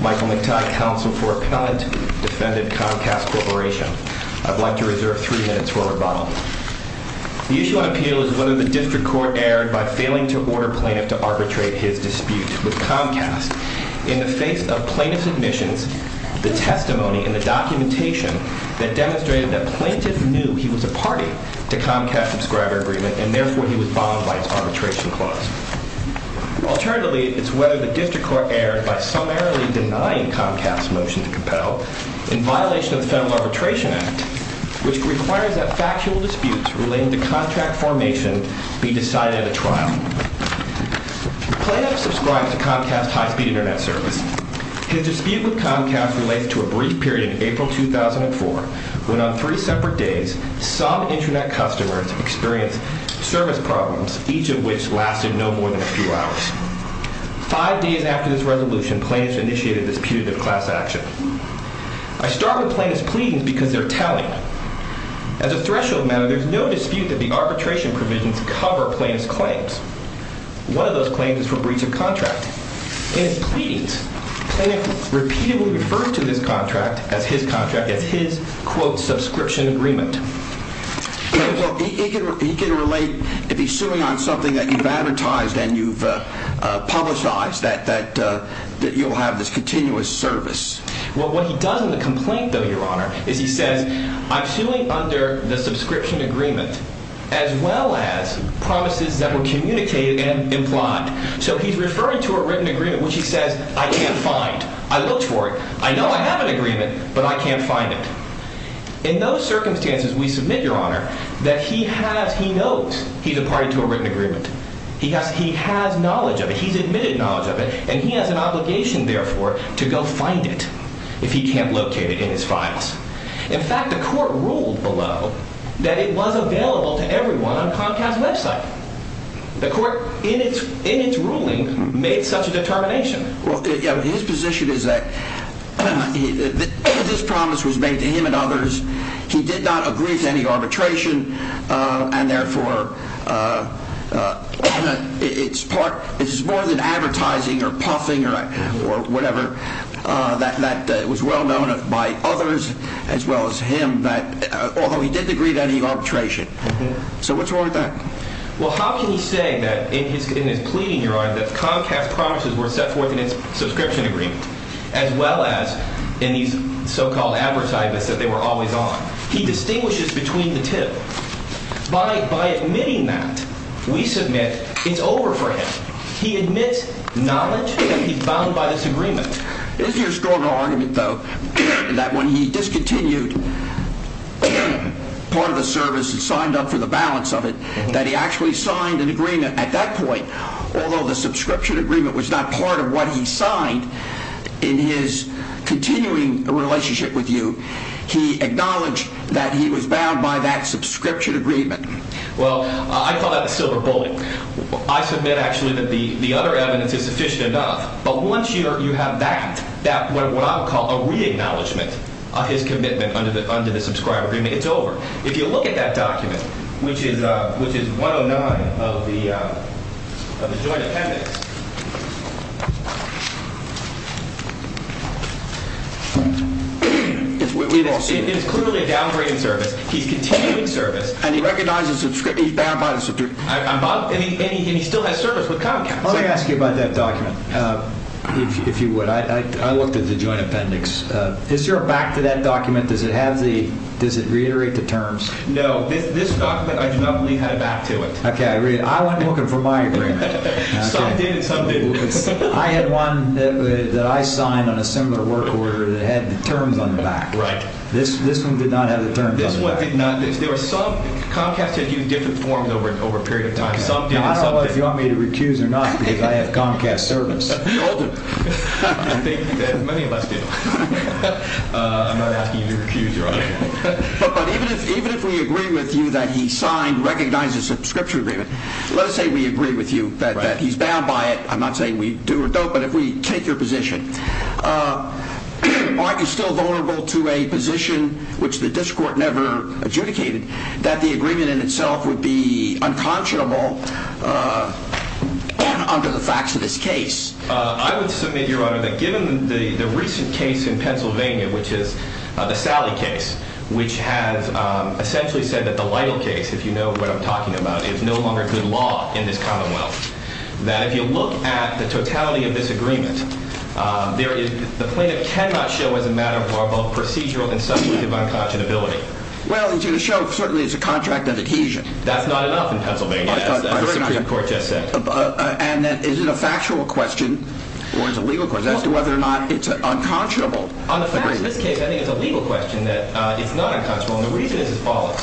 Michael McTighe, counsel for appellant, defended Comcast Corporation. I'd like to reserve three minutes for rebuttal. The usual appeal is whether the district court erred by failing to order plaintiff to arbitrate his dispute with Comcast in the face of plaintiff's admissions, the testimony and the documentation that demonstrated that plaintiff knew he was a party to Comcast Subscriber Agreement and therefore he was bombed by its arbitration clause. Alternatively, it's whether the district court erred by summarily denying Comcast's motion to compel in violation of the Federal Arbitration Act, which requires that factual disputes relating to contract formation be decided at a trial. Plaintiff subscribes to Comcast's high-speed Internet service. His dispute with Comcast relates to a brief period in April 2004, when on three separate days, some Internet customers experienced service problems, each of which lasted no more than a few hours. Five days after this resolution, plaintiffs initiated this putative class action. I start with plaintiffs' pleadings because they're telling. As a threshold matter, there's no dispute that the arbitration provisions cover plaintiff's claims. One of those claims is for breach of contract. In his pleadings, plaintiff repeatedly referred to this contract as his contract, as his, quote, subscription agreement. He can relate, if he's suing on something that you've advertised and you've publicized, that you'll have this continuous service. Well, what he does in the complaint, though, Your Honor, is he says, I'm suing under the subscription agreement, as well as promises that were communicated and implied. So he's referring to a written agreement, which he says, I can't find. I looked for it. I know I have an agreement, but I can't find it. In those circumstances, we submit, Your Honor, that he has, he knows he's a party to a written agreement. He has, he has knowledge of it. He's admitted knowledge of it, and he has an obligation, therefore, to go find it if he can't locate it in his The court, in its, in its ruling, made such a determination. Well, his position is that this promise was made to him and others. He did not agree to any arbitration, and therefore, it's part, it's more than advertising or puffing or whatever, that was well known by others, as well as him, that although he didn't agree to any arbitration. So what's wrong with that? Well, how can you say that in his, in his pleading, Your Honor, that Comcast promises were set forth in his subscription agreement, as well as in these so-called advertisements that they were always on? He distinguishes between the two. By, by admitting that, we submit it's over for him. He admits knowledge that he's bound by this agreement. Is your strong argument, though, that when he discontinued part of the service and signed up for the balance of it, that he actually signed an agreement at that point, although the subscription agreement was not part of what he signed in his continuing relationship with you, he acknowledged that he was bound by that subscription agreement? Well, I call that a silver bullet. I submit, actually, that the, that what I would call a re-acknowledgement of his commitment under the, under the subscriber agreement, it's over. If you look at that document, which is, which is 109 of the, of the joint appendix, it's clearly a downgraded service. He's continuing service. And he recognizes that he's bound by the subscription. I'm, and he still has service with Comcast. Let me ask you about that document. If, if you would, I, I, I looked at the joint appendix. Is there a back to that document? Does it have the, does it reiterate the terms? No, this, this document, I do not believe had a back to it. Okay. I read it. I went looking for my agreement. I had one that I signed on a similar work order that had the terms on the back. Right. This, this one did not have the terms on it. This one did not. There were some, Comcast had used different forms over, over a period of time. I don't know if you want me to recuse or not, because I have Comcast service. You all do. I think many of us do. I'm not asking you to recuse your argument. But, but even if, even if we agree with you that he signed, recognized the subscription agreement, let us say we agree with you that he's bound by it. I'm not saying we do or don't, but if we take your position, are you still vulnerable to a position, which the district court never adjudicated, that the agreement in itself would be unconscionable under the facts of this case? I would submit, Your Honor, that given the, the recent case in Pennsylvania, which is the Sally case, which has essentially said that the Lytle case, if you know what I'm talking about, is no longer good law in this commonwealth. That if you look at the totality of this agreement, there is, the plaintiff cannot show as a matter of both procedural and substantive unconscionability. Well, it's going to show, certainly, it's a contract of adhesion. That's not enough in Pennsylvania, as the Supreme Court just said. And is it a factual question or is it a legal question as to whether or not it's unconscionable? On the facts of this case, I think it's a legal question that it's not unconscionable. And the reason is as follows.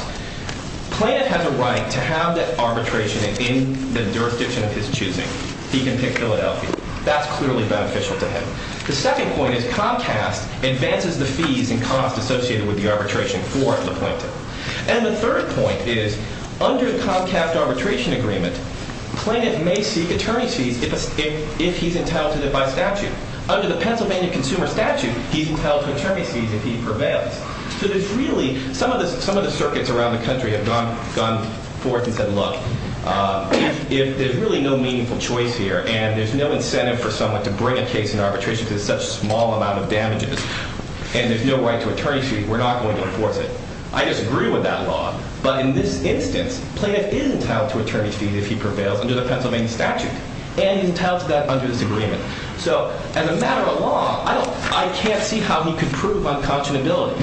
Plaintiff has a right to have that arbitration in the jurisdiction of his choosing. He can pick Philadelphia. That's clearly beneficial to him. The second point is Comcast advances the fees and costs associated with the arbitration for the plaintiff. And the third point is, under the Comcast arbitration agreement, plaintiff may seek attorney's fees if he's entitled to them by statute. Under the Pennsylvania Consumer Statute, he's entitled to attorney's fees if he prevails. So there's really, some of the circuits around the country have gone forward and said, look, there's really no meaningful choice here and there's no incentive for someone to bring a case in arbitration to such a small amount of damages and there's no right to attorney's fees. We're not going to enforce it. I disagree with that law, but in this instance, plaintiff is entitled to attorney's fees if he prevails under the Pennsylvania statute and he's entitled to that under this agreement. So as a matter of law, I don't, I can't see how he could prove unconscionability.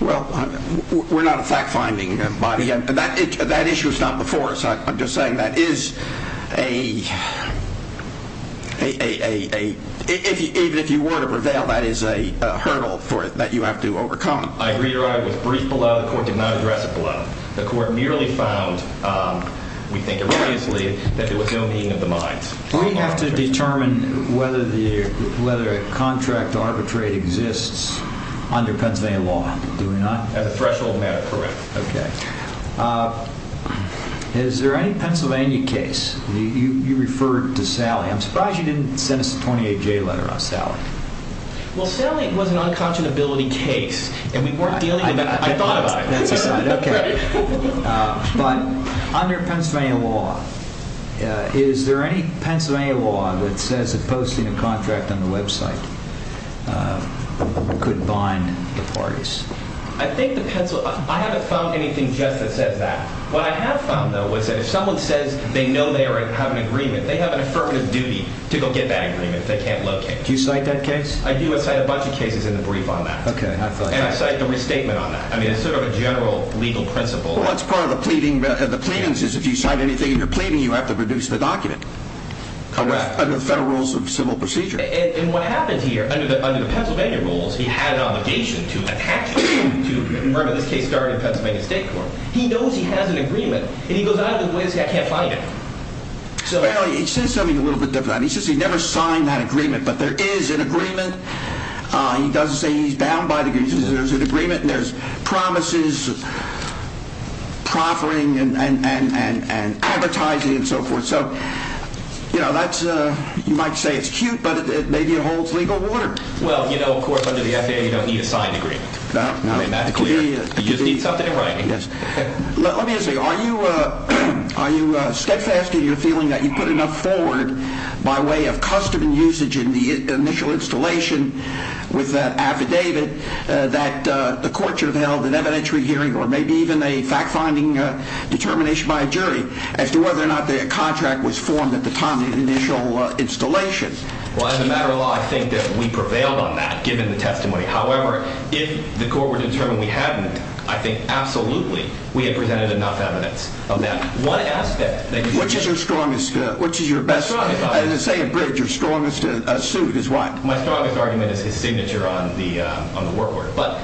Well, we're not a fact-finding body. That issue was not before us. I'm just saying that is a a, a, a, a, if you, even if you were to prevail, that is a hurdle for it that you have to overcome. I agree or I was briefed below. The court did not address it below. The court merely found, we think, erroneously that there was no meeting of the minds. We have to determine whether the, whether a contract arbitrate exists under Pennsylvania law, do we not? As a threshold matter, correct. Okay. Uh, is there any Pennsylvania case? You, you, you referred to Sally. I'm surprised you didn't send us a 28-J letter on Sally. Well, Sally, it was an unconscionability case and we weren't dealing with that. I thought about it, but under Pennsylvania law, is there any Pennsylvania law that says that posting a contract on the website, uh, could bind the parties? I think the pencil, I haven't found anything just that says that. What I have found though, was that if someone says they know they have an agreement, they have an affirmative duty to go get that agreement. If they can't locate, do you cite that case? I do a side, a bunch of cases in the brief on that. Okay. And I cite the restatement on that. I mean, it's sort of a general legal principle. That's part of the pleading. The plaintiffs is if you sign anything, you're pleading, you have to produce the document under the federal rules of civil procedure. And what happens here under the, under the Pennsylvania rules, he had an obligation to attach to murder. This case started in Pennsylvania state court. He knows he has an agreement and he goes out of the way. This guy can't find it. So he says something a little bit different. He says he never signed that agreement, but there is an agreement. Uh, he doesn't say he's bound by degrees. There's an agreement and there's promises proffering and, and, and, and advertising and so forth. So, you know, that's a, you might say it's cute, but maybe it holds legal water. Well, you know, of course, under the FAA, you don't need a signed agreement. You just need something in writing. Yes. Let me ask you, are you a, are you a steadfast in your feeling that you put enough forward by way of custom and usage in the initial installation with that affidavit, uh, that, uh, the court should have held an evidentiary hearing or maybe even a fact finding a determination by a jury as to whether or not the contract was formed at the initial installation? Well, as a matter of law, I think that we prevailed on that given the testimony. However, if the court were determined, we hadn't, I think absolutely we had presented enough evidence of that. One aspect, which is your strongest, which is your best, say a bridge or strongest suit is what my strongest argument is his signature on the, uh, on the work order. But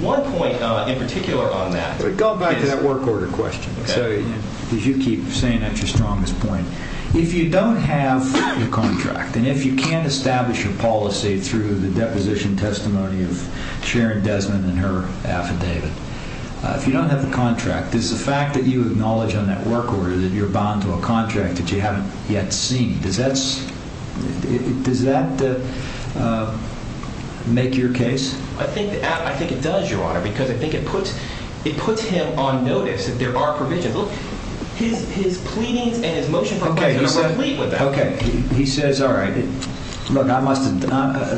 one point, uh, in particular on that, go back to that work order question. So did you keep saying that your strongest point, if you don't have your contract and if you can't establish your policy through the deposition testimony of Sharon Desmond and her affidavit, if you don't have the contract, is the fact that you acknowledge on that work order that you're bound to a contract that you haven't yet seen? Does that's, does that, uh, make your case? I think, I think it does your honor, because I think it puts, it puts him on notice that there are provisions, his, his pleadings and his motion. Okay. He says, all right, look, I must've,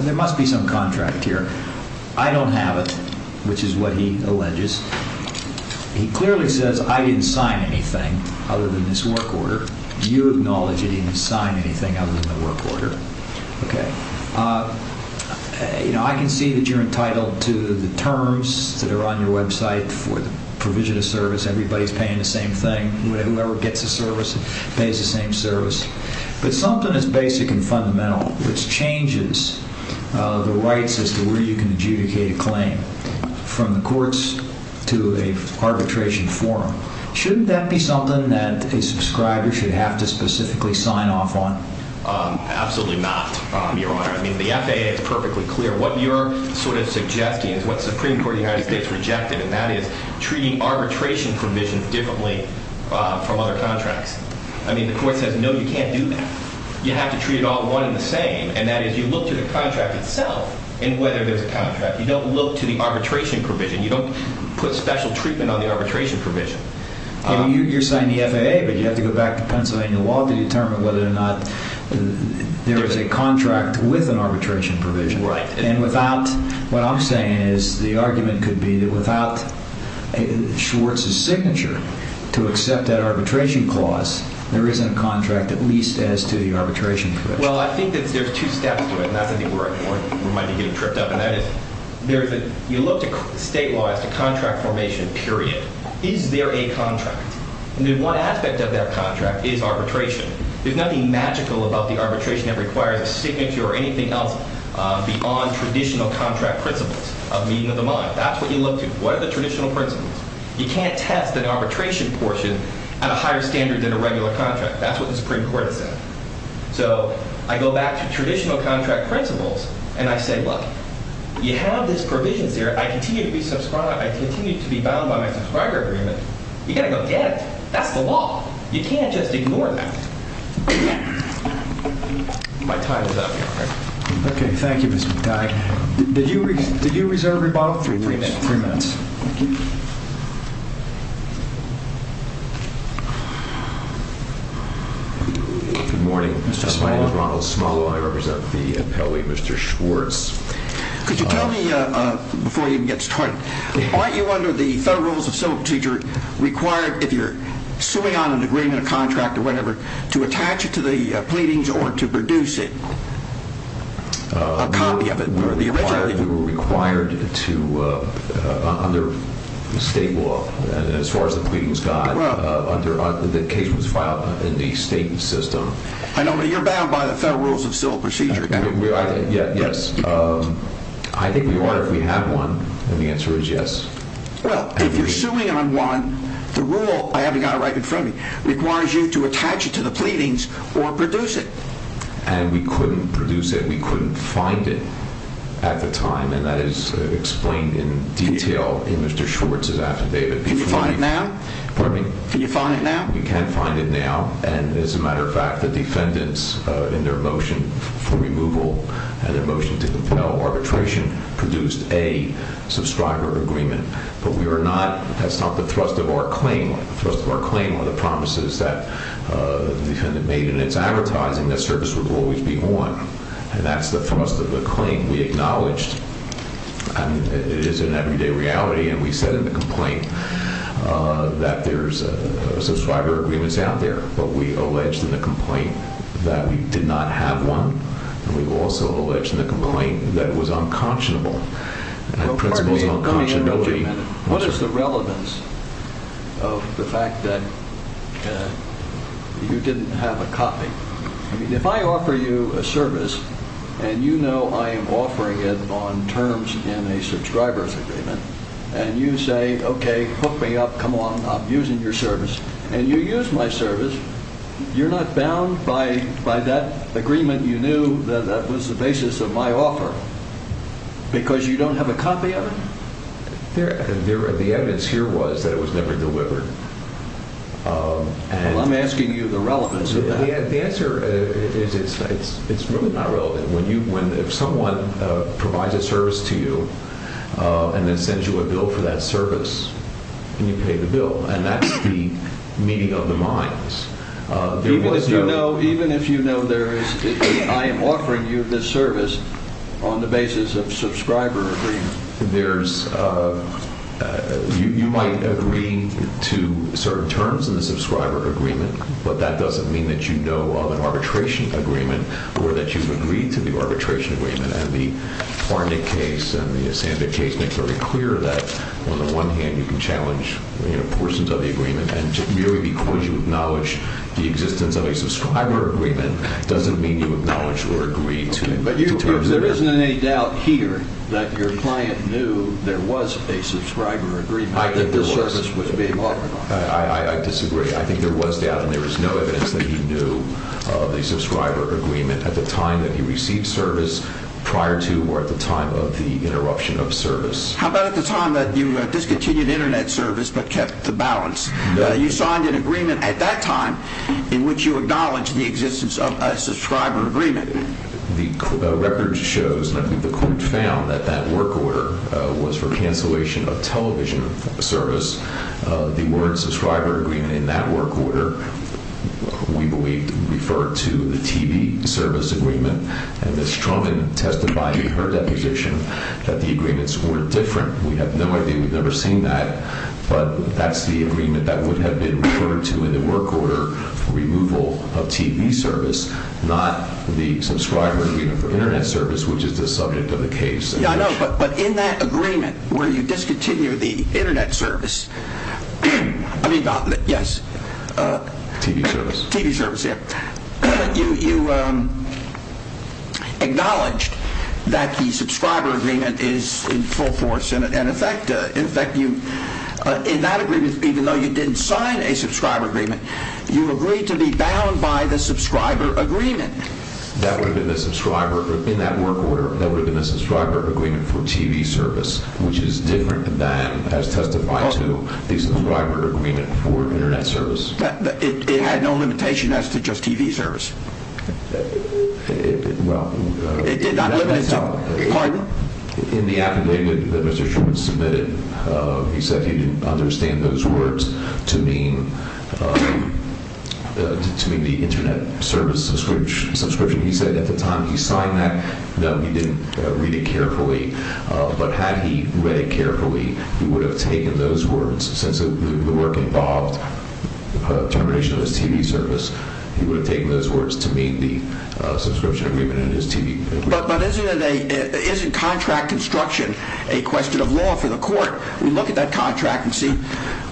there must be some contract here. I don't have it, which is what he alleges. He clearly says, I didn't sign anything other than this work order. You acknowledge that he didn't sign anything other than the work order. Okay. Uh, you know, I can see that you're entitled to the terms that are on your website for the provision of service. Everybody's paying the same thing. Whoever gets a service pays the same service, but something that's basic and fundamental, which changes, uh, the rights as to where you can adjudicate a claim from the courts to a arbitration forum. Shouldn't that be something that a subscriber should have to specifically sign off on? Um, absolutely not your honor. I mean, the FAA is perfectly clear what you're sort of suggesting is what the Supreme Court of the United States rejected. And that is treating arbitration provisions differently, uh, from other contracts. I mean, the court says, no, you can't do that. You have to treat it all one in the same. And that is you look to the contract itself and whether there's a contract, you don't look to the arbitration provision. You don't put special treatment on the arbitration provision. You're signing the FAA, but you have to go back to Pennsylvania law to determine whether or not there is a contract with an arbitration provision. Right. And without what I'm saying is the argument could be that without a Schwartz's signature to accept that arbitration clause, there isn't a contract, at least as to the arbitration. Well, I think that there's two steps to it. And that's, I think we're at a point where we might be getting tripped up. And that is there's a, you look to state law as to contract formation period. Is there a contract? And then one aspect of that contract is arbitration. There's nothing magical about the arbitration that requires a signature or anything else beyond traditional contract principles of meeting of the mind. That's what you look to. What are the traditional principles? You can't test an arbitration portion at a higher standard than a regular contract. That's what the Supreme Court has said. So I go back to traditional contract principles and I say, look, you have this provisions here. I continue to be subscribed. I continue to be bound by my subscriber agreement. You gotta go get it. That's the law. You can't just ignore that. My time is up. Okay. Thank you, Mr. McTighe. Did you, did you reserve your bottle? Three minutes. Good morning. My name is Ronald Smollow. I represent the appellee, Mr. Schwartz. Could you before you even get started, aren't you under the Federal Rules of Civil Procedure required, if you're suing on an agreement, a contract or whatever, to attach it to the pleadings or to produce it, a copy of it? We were required to, under state law, as far as the pleadings guide, the case was filed in the state system. I know, but you're bound by the Federal Rules of Civil Procedure. Yes. I think we are, if we have one. And the answer is yes. Well, if you're suing on one, the rule, I haven't got it right in front of me, requires you to attach it to the pleadings or produce it. And we couldn't produce it. We couldn't find it at the time. And that is explained in detail in Mr. Schwartz's affidavit. Can you find it now? Pardon me? Can you find it now? We can find it now. And as a matter of fact, the defendants, in their motion for removal and their motion to compel arbitration, produced a subscriber agreement. But we are not, that's not the thrust of our claim. The thrust of our claim are the promises that the defendant made in its advertising that service would always be won. And that's the thrust of the claim we acknowledged. And it is an everyday reality. And we said in the complaint that there's a subscriber agreements out there. But we alleged in the complaint that we did not have one. And we've also alleged in the complaint that was unconscionable. What is the relevance of the fact that you didn't have a copy? I mean, if I offer you a service and you know, I am offering it on terms in a subscriber's agreement and you say, okay, hook me up. Come on. I'm using your service and you use my service. You're not bound by by that agreement. You knew that that was the basis of my offer because you don't have a copy of it. The evidence here was that it was never delivered. Um, and I'm asking you the relevance of the answer is it's, it's, it's really not relevant when you, when if someone provides a service to you, uh, and then sends you a bill for that service and you pay the bill and that's the meeting of the minds. Uh, even if you know, even if you know, there is, I am offering you this service on the basis of subscriber agreement, there's, uh, uh, you, you might agree to certain terms in the subscriber agreement, but that doesn't mean that you know of an arbitration agreement or that you've agreed to the arbitration agreement. And the Barnett case and the Sandvik case makes very clear that on the one hand, you can challenge, you know, portions of the agreement and merely because you acknowledge the existence of a subscriber agreement doesn't mean you acknowledge or agree to it. But there isn't any doubt here that your client knew there was a subscriber agreement that this service was being offered. I disagree. I think there was data and there was no evidence that he knew of the subscriber agreement at the time that he received service prior to or at the time of the interruption of service. How about at the time that you discontinued internet service, but kept the balance, you signed an agreement at that time in which you acknowledge the existence of a subscriber agreement. The court found that that work order was for cancellation of television service. Uh, the word subscriber agreement in that work order, we believed referred to the TV service agreement and it's Trump and tested by her deposition that the agreements were different. We have no idea. We've never seen that, but that's the agreement that would have been referred to in the work order for removal of TV service, not the subscriber agreement for internet service, which is the subject of the case. Yeah, I know. But, but in that agreement where you discontinue the internet service, I mean, yes, uh, TV service, TV service. Yeah. You, you, um, acknowledged that the subscriber agreement is in full force. And in fact, uh, in fact, you, uh, in that agreement, even though you didn't sign a subscriber agreement, you agreed to be bound by the subscriber agreement that would have been the subscriber in that work order. That would have been the subscriber agreement for TV service, which is different than as testified to the subscriber agreement for internet service. It had no limitation as to just TV service. Well, it did not. Pardon? In the affidavit that Mr. Sherman submitted, uh, he said he didn't understand those words to mean, um, uh, to mean the internet service subscription. He said at the time he signed that, no, he didn't read it carefully. Uh, but had he read it carefully, he would have taken those words since the work involved termination of his TV service. He would have taken those words to mean the, uh, subscription agreement and his TV. But, but isn't it a, isn't contract construction a question of law for the contract and see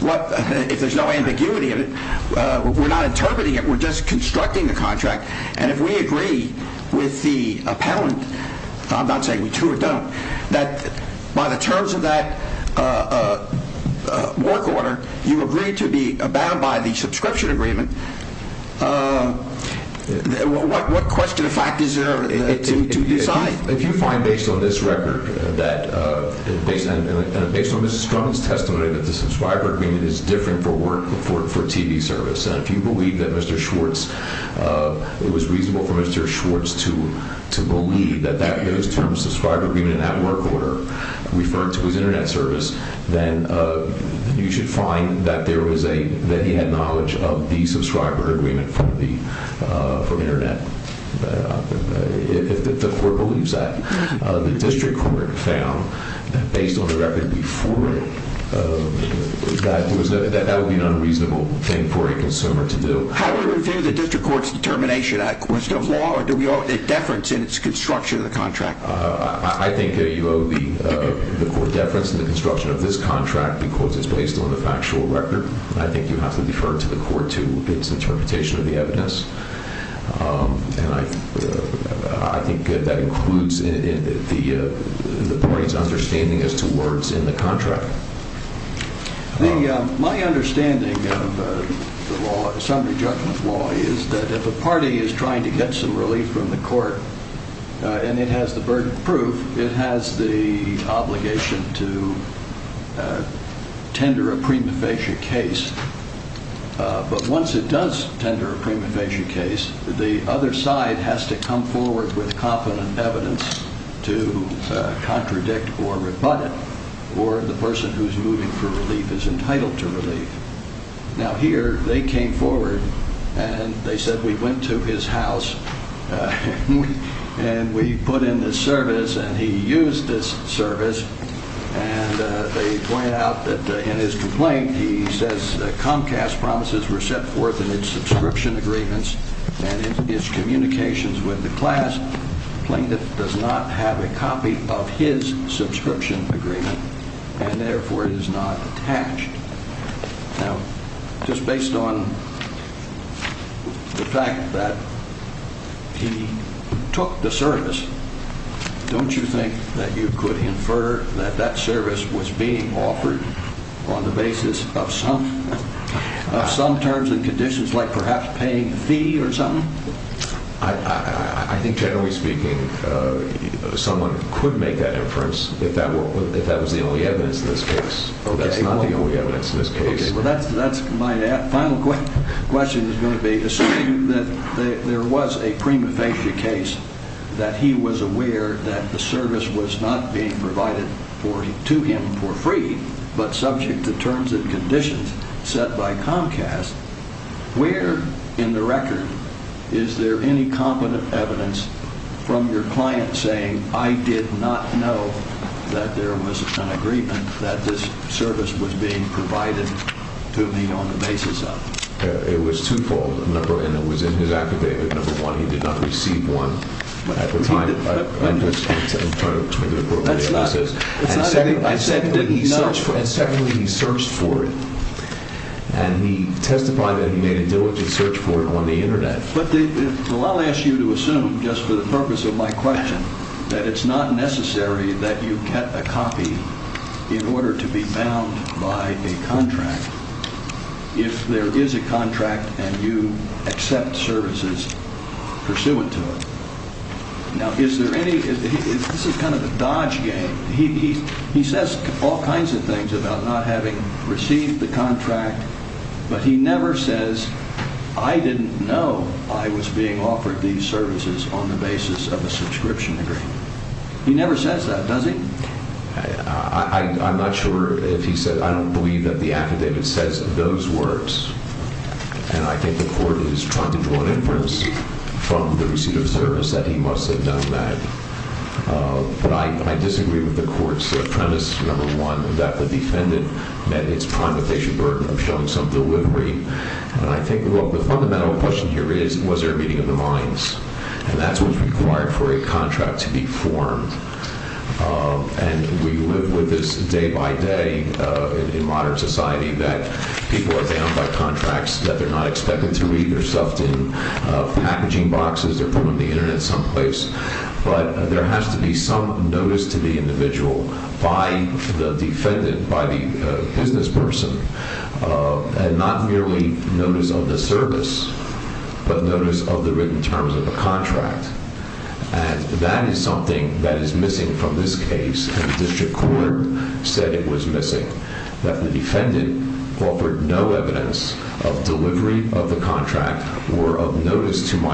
what, if there's no ambiguity of it, uh, we're not interpreting it, we're just constructing the contract. And if we agree with the appellant, I'm not saying we do or don't, that by the terms of that, uh, uh, uh, work order, you agreed to be bound by the subscription agreement. Uh, what, what question of fact is there to decide? If you find based on this record that, uh, based on, uh, based on Mr. Stroman's testimony, that the subscriber agreement is different for work for, for TV service. And if you believe that Mr. Schwartz, uh, it was reasonable for Mr. Schwartz to, to believe that, that those terms, subscriber agreement and that work order referred to his internet service, then, uh, you should find that there was a, that he had knowledge of the subscriber agreement from the, uh, from internet. Uh, if the court believes that, uh, the district court found that based on the record before it, uh, that there was no, that that would be an unreasonable thing for a consumer to do. How do we review the district court's determination, a question of law, or do we owe a deference in its construction of the contract? Uh, I think that you owe the, uh, the court deference in the construction of this contract because it's based on the factual record. I think you have to defer to the court to its interpretation of the evidence. Um, and I, uh, I think that includes in, in the, uh, the party's understanding as to words in the contract. The, um, my understanding of the law, summary judgment law is that if a party is trying to get some relief from the court, uh, and it has the burden of proof, it has the obligation to, uh, tender a prima facie case. Uh, but once it does tender a prima facie case, the other side has to come forward with competent evidence to, uh, contradict or rebut it, or the person who's moving for relief is entitled to relief. Now, here they came forward and they said, we went to his house and we, and we put in this service and he used this service and, uh, they point out that, uh, in his complaint, he says, uh, Comcast promises were set forth in its subscription agreements and his communications with the class plaintiff does not have a copy of his subscription agreement and therefore it is not attached. Now, just based on the fact that he took the service, don't you think that you could infer that that service was being offered on the basis of some, of some terms and conditions like perhaps paying a fee or something? I, I, I think generally speaking, uh, someone could make that inference if that was the only evidence in this case. That's not the only evidence in this case. Okay. Well, that's, that's my final question is going to be assuming that there was a prima facie case that he was aware that the service was not being provided for to him for free, but subject to terms and conditions set by Comcast. Where in the record is there any evidence from your client saying, I did not know that there was an agreement that this service was being provided to me on the basis of, uh, it was twofold. Number one, it was in his accommodation. Number one, he did not receive one at the time. And secondly, he searched for it and he testified that he made a diligent search for it on the just for the purpose of my question, that it's not necessary that you get a copy in order to be bound by a contract. If there is a contract and you accept services pursuant to it. Now, is there any, this is kind of a dodge game. He, he, he says all kinds of things about not having on the basis of a subscription agreement. He never says that, does he? I, I, I'm not sure if he said, I don't believe that the affidavit says those words. And I think the court is trying to draw an inference from the receipt of service that he must have done that. Uh, but I, I disagree with the court's premise. Number one, that the defendant met its prima facie burden of showing some delivery. And I think the fundamental question here is, was there a meeting of the minds? And that's what's required for a contract to be formed. Um, and we live with this day by day, uh, in modern society that people are bound by contracts that they're not expected to read. They're stuffed in, uh, packaging boxes. They're put on the internet someplace, but there has to be some notice to the individual by the defendant, by the business person, uh, and not merely notice of the service, but notice of the written terms of a contract. And that is something that is missing from this case. And the district court said it was missing that the defendant offered no evidence of delivery of the contract or of notice to my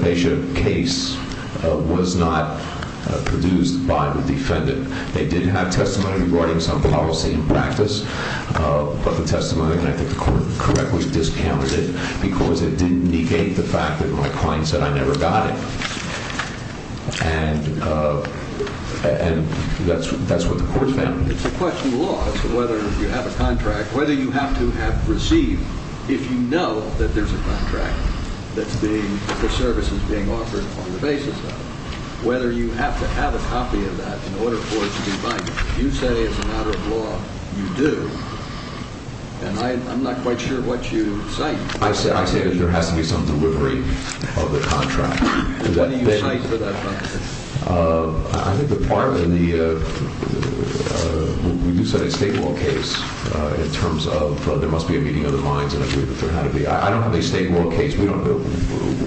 patient case was not produced by the defendant. They did have testimony regarding some policy and practice, uh, but the testimony, and I think the court correctly discounted it because it didn't negate the fact that my client said I never got it. And, uh, and that's, that's what the court found. It's a question of law. It's whether you have a contract, whether you have to have received if you know that there's a contract that's being, the services being offered on the basis of it, whether you have to have a copy of that in order for it to be binding. You say as a matter of law, you do. And I, I'm not quite sure what you cite. I said, I say that there has to be some delivery of the contract. Uh, I think the part of the, uh, uh, when you said a state law case, uh, in terms of, uh, there must be a meeting of the minds and agree that there had to be, I don't have a state law case. We don't know.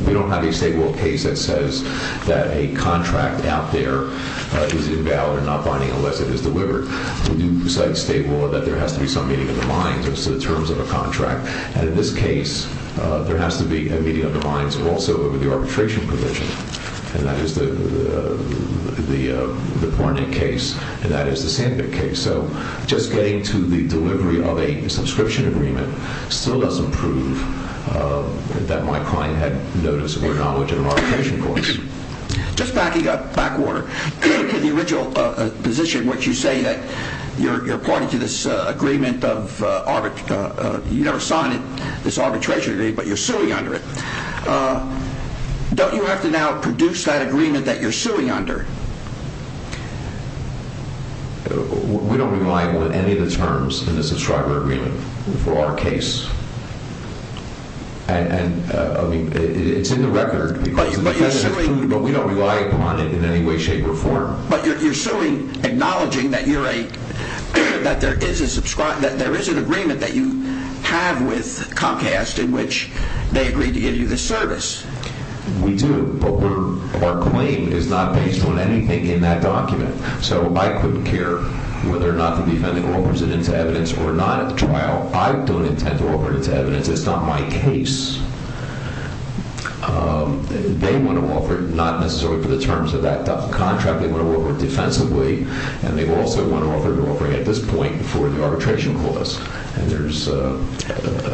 We don't have a state law case that says that a contract out there, uh, is invalid and not binding unless it is delivered. When you say state law, that there has to be some meeting of the minds in terms of a contract. And in this case, uh, there has to be a meeting of the minds also over the arbitration provision. And that is the, uh, the, uh, the Barnett case and that is the Sandvik case. So just getting to the delivery of a subscription agreement still doesn't prove, uh, that my client had notice or knowledge of arbitration courts. Just backing up backwater to the original, uh, position, which you say that you're, you're part of this, uh, agreement of, uh, arbit, uh, uh, you never signed it, this arbitration today, but you're suing under it. Uh, don't you have to now produce that agreement that you're suing under? We don't rely on any of the terms in the subscriber agreement for our case. And, uh, I mean, it's in the record, but we don't rely upon it in any way, shape or form, but you're, you're suing, acknowledging that you're a, that there is a subscriber, that there is an agreement that you have with Comcast in which they agreed to give you the We do, but we're, our claim is not based on anything in that document. So I couldn't care whether or not the defendant offers it into evidence or not at the trial. I don't intend to offer it into evidence. It's not my case. Um, they want to offer it, not necessarily for the terms of that contract. They want to offer it defensively and they also want to offer it to offering at this point before arbitration clause. And there's a,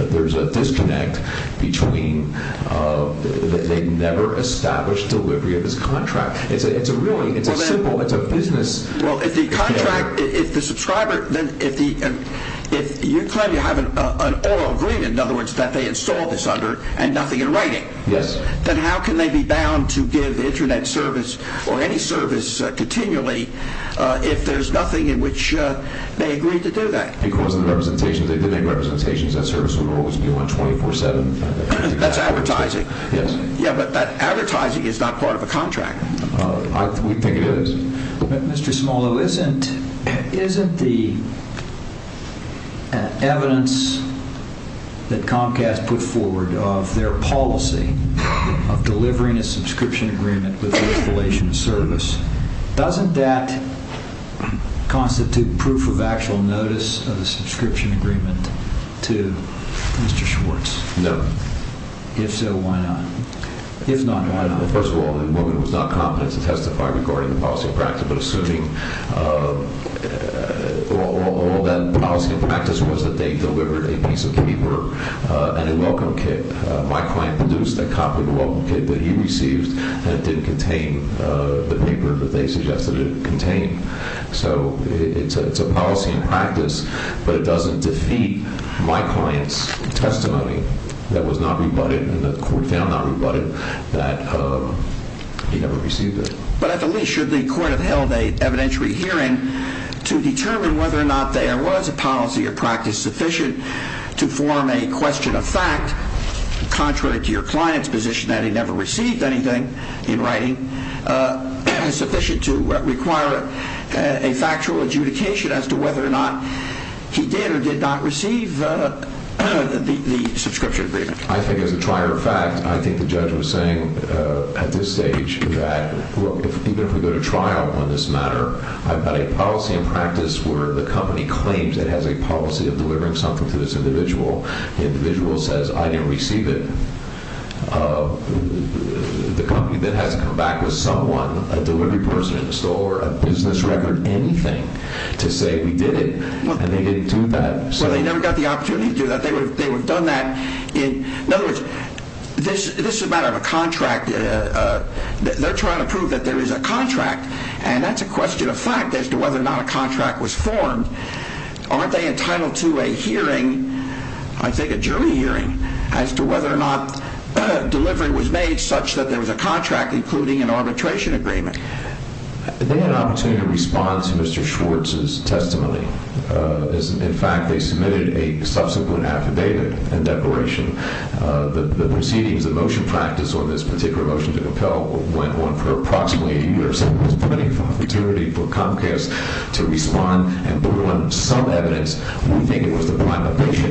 there's a disconnect between, uh, they never established delivery of this contract. It's a, it's a really, it's a simple, it's a business. Well, if the contract, if the subscriber, then if the, if you claim you have an oral agreement, in other words, that they installed this under and nothing in writing, then how can they be bound to give internet service or any service, uh, continually, uh, if there's nothing in which, uh, they agreed to do that. Because of the representations, they did make representations that service would always be on 24 seven. That's advertising. Yes. Yeah. But that advertising is not part of a contract. Uh, we think it is. Mr. Smollo, isn't, isn't the evidence that Comcast put forward of their policy of delivering a subscription agreement with the installation service, doesn't that constitute proof of actual notice of the subscription agreement to Mr. Schwartz? No. If so, why not? If not, why not? First of all, the woman was not competent to testify regarding the policy of practice, but assuming, uh, uh, all that policy and practice was that they delivered a piece of paper, uh, and a welcome kit. Uh, my client produced a copy of the welcome kit that he received and it didn't contain, uh, the paper that they suggested it contain. So it's a, it's a policy in practice, but it doesn't defeat my client's testimony that was not rebutted and the court found not rebutted that, uh, he to determine whether or not there was a policy or practice sufficient to form a question of fact, contrary to your client's position that he never received anything in writing, uh, is sufficient to require a factual adjudication as to whether or not he did or did not receive, uh, the, the subscription agreement. I think as a prior fact, I think the judge was saying, uh, at this stage that even if we go to trial on this matter, I've got a policy in practice where the company claims it has a policy of delivering something to this individual. The individual says, I didn't receive it. Uh, the company then has to come back with someone, a delivery person, an installer, a business record, anything to say we did it and they didn't do that. Well, they never got the opportunity to do that. They would, they would have done that in, in other words, this, this is a matter of a contract. Uh, uh, they're trying to prove that there is a contract and that's a question of fact as to whether or not a contract was formed. Aren't they entitled to a hearing? I think a jury hearing as to whether or not delivery was made such that there was a contract including an arbitration agreement. They had an opportunity to respond to Mr. Schwartz's testimony. Uh, in fact, they submitted a subsequent affidavit and declaration. Uh, the, the proceedings, the motion practice on this particular motion to compel went on for approximately a year. So there was plenty of opportunity for Comcast to respond and put on some evidence. We think it was the prime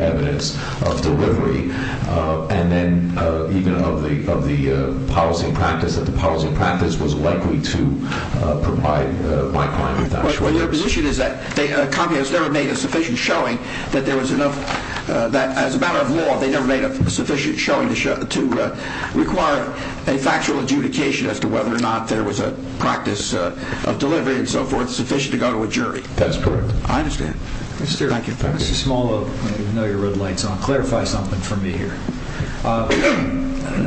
evidence of delivery. Uh, and then, uh, even of the, of the, uh, policy and practice that the policy and practice was likely to, uh, provide, uh, my client. Well, your position is that they, uh, Comcast never made a sufficient showing that there was enough, uh, that as a matter of law, they never made a sufficient showing to show, to, uh, require a factual adjudication as to whether or not there was a practice, uh, of delivery and so forth sufficient to go to a jury. That's correct. I understand. Mr. Small, I know your red light's on. Clarify something for me here. Uh,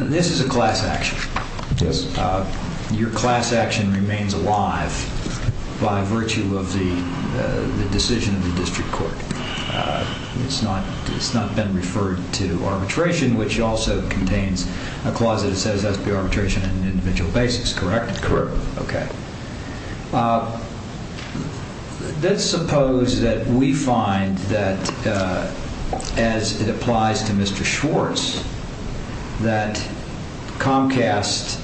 this is a class action. Yes. Uh, your class action remains alive by virtue of the, uh, the decision of the district court. It's not, it's not been referred to arbitration, which also contains a clause that it says has to be arbitration and individual basics, correct? Correct. Okay. Uh, let's suppose that we find that, uh, as it applies to Mr. Schwartz, that Comcast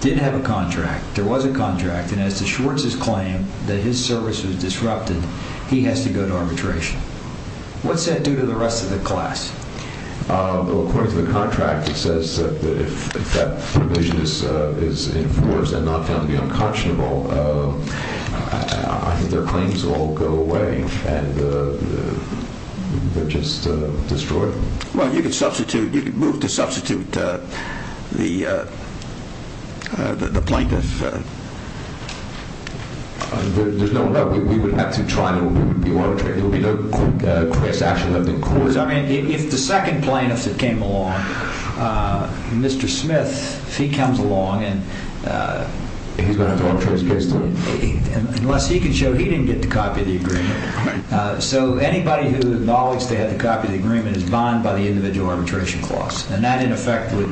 didn't have a contract, there was a contract, and as to Schwartz's claim that his service was disrupted, he has to go to arbitration. What's that do to the rest of the class? Uh, according to the contract, it says that if that provision is, uh, is enforced and not found to be unconscionable, uh, I think their claims will go away and, uh, they're just, uh, destroyed. Well, you could substitute, you could move to arbitration. I mean, if the second plaintiff that came along, uh, Mr. Smith, if he comes along and, uh, unless he can show he didn't get the copy of the agreement. Uh, so anybody who acknowledged they had the copy of the agreement is bond by the individual arbitration clause. And that in effect would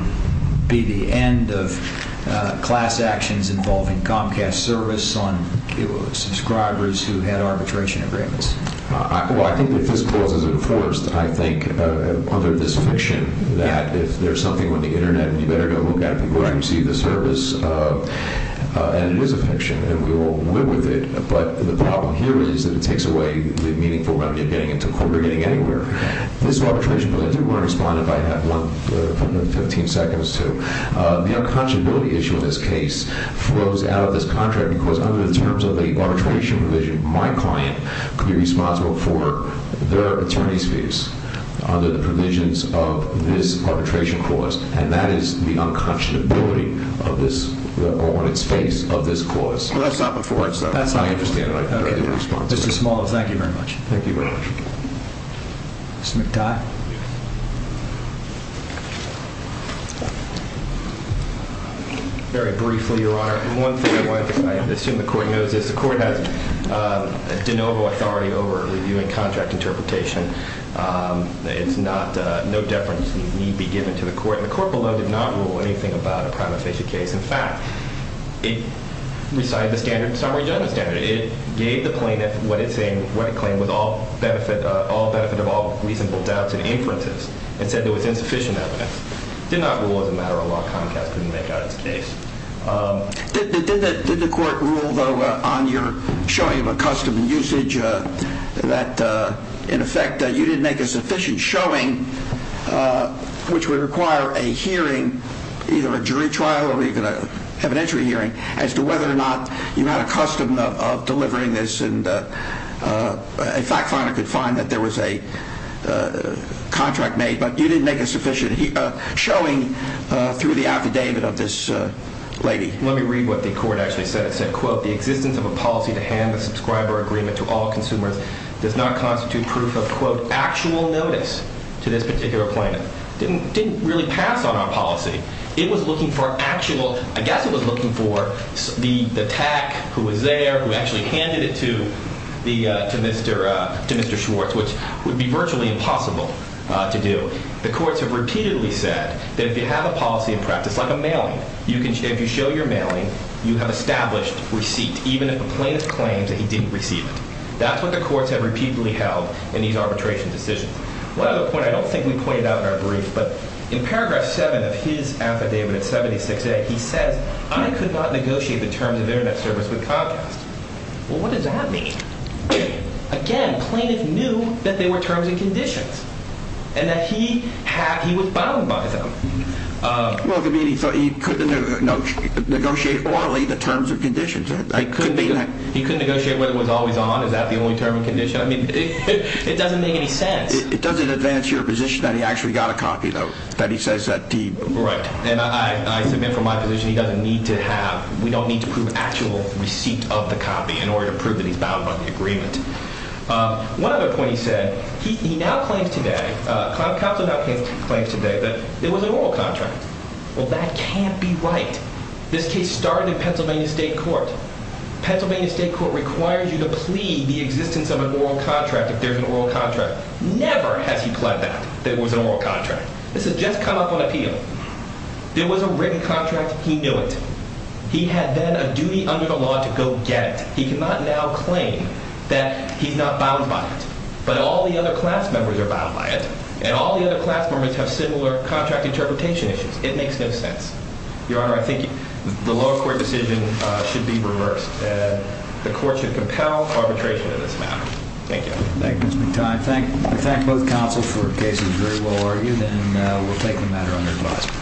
be the end of, uh, class actions involving Comcast service on, uh, subscribers who had arbitration agreements. Uh, well, I think that this clause is enforced, I think, uh, under this fiction that if there's something on the internet, you better go look at it before you receive the service. Uh, uh, and it is a fiction and we will live with it. But the problem here is that it takes away the meaningful remedy of getting into court or getting anywhere. This arbitration respondent might have one, uh, 15 seconds to, uh, the unconscionability issue in this case flows out of this contract because under the terms of the arbitration provision, my client could be responsible for their attorney's fees under the provisions of this arbitration clause. And that is the unconscionability of this on its face of this clause. That's not before. That's not interesting. Thank you very much. Thank you very much. Very briefly, your honor. And one thing I wanted to say, I assume the court knows this, the court has, uh, de novo authority over reviewing contract interpretation. Um, it's not, uh, no deference need be given to the court. The court below did not rule anything about a gave the plaintiff what it's saying, what it claimed was all benefit, all benefit of all reasonable doubts and inferences and said there was insufficient evidence did not rule as a matter of law. Comcast couldn't make out its case. Um, did the court rule though on your showing of accustomed usage, uh, that, uh, in effect that you didn't make a sufficient showing, uh, which would require a hearing, either a jury trial or even a evidentiary hearing as to whether or not you had a custom of delivering this. And, uh, uh, in fact, finally could find that there was a, uh, contract made, but you didn't make a sufficient showing, uh, through the affidavit of this lady. Let me read what the court actually said. It said, quote, the existence of a policy to hand the subscriber agreement to all consumers does not constitute proof of quote, actual notice to this particular plan didn't, didn't really pass on our policy. It was looking for actual, I guess it was looking for the, the tack who was there, who actually handed it to the, uh, to Mr., uh, to Mr. Schwartz, which would be virtually impossible to do. The courts have repeatedly said that if you have a policy in practice, like a mailing, you can, if you show your mailing, you have established receipt, even if a plaintiff claims that he didn't receive it. That's what the courts have repeatedly held in these arbitration decisions. One other point I don't think we I could not negotiate the terms of internet service with Comcast. Well, what does that mean? Again, plaintiff knew that they were terms and conditions and that he had, he was bound by them. Well, it could mean he thought he couldn't negotiate orally the terms and conditions. He couldn't negotiate what it was always on. Is that the only term and condition? I mean, it doesn't make any sense. It doesn't advance your position that he actually got a copy though, that he says that deep. Right. And I, I submit from my position, he doesn't need to have, we don't need to prove actual receipt of the copy in order to prove that he's bound by the agreement. One other point he said, he now claims today, uh, counsel now claims today that it was an oral contract. Well, that can't be right. This case started in Pennsylvania state court, Pennsylvania state court requires you to plea the existence of an oral contract. If there's an oral contract, never has he pled that there was an oral contract. This has just come up on appeal. There was a written contract. He knew it. He had then a duty under the law to go get it. He cannot now claim that he's not bound by it, but all the other class members are bound by it. And all the other class members have similar contract interpretation issues. It makes no sense. Your Honor, I think the lower court decision should be reversed and the court should compel arbitration in this matter. Thank you. Thank you. Mr. Time. Thank you. Thank both counsel for cases very well argued and we'll take the matter under advice.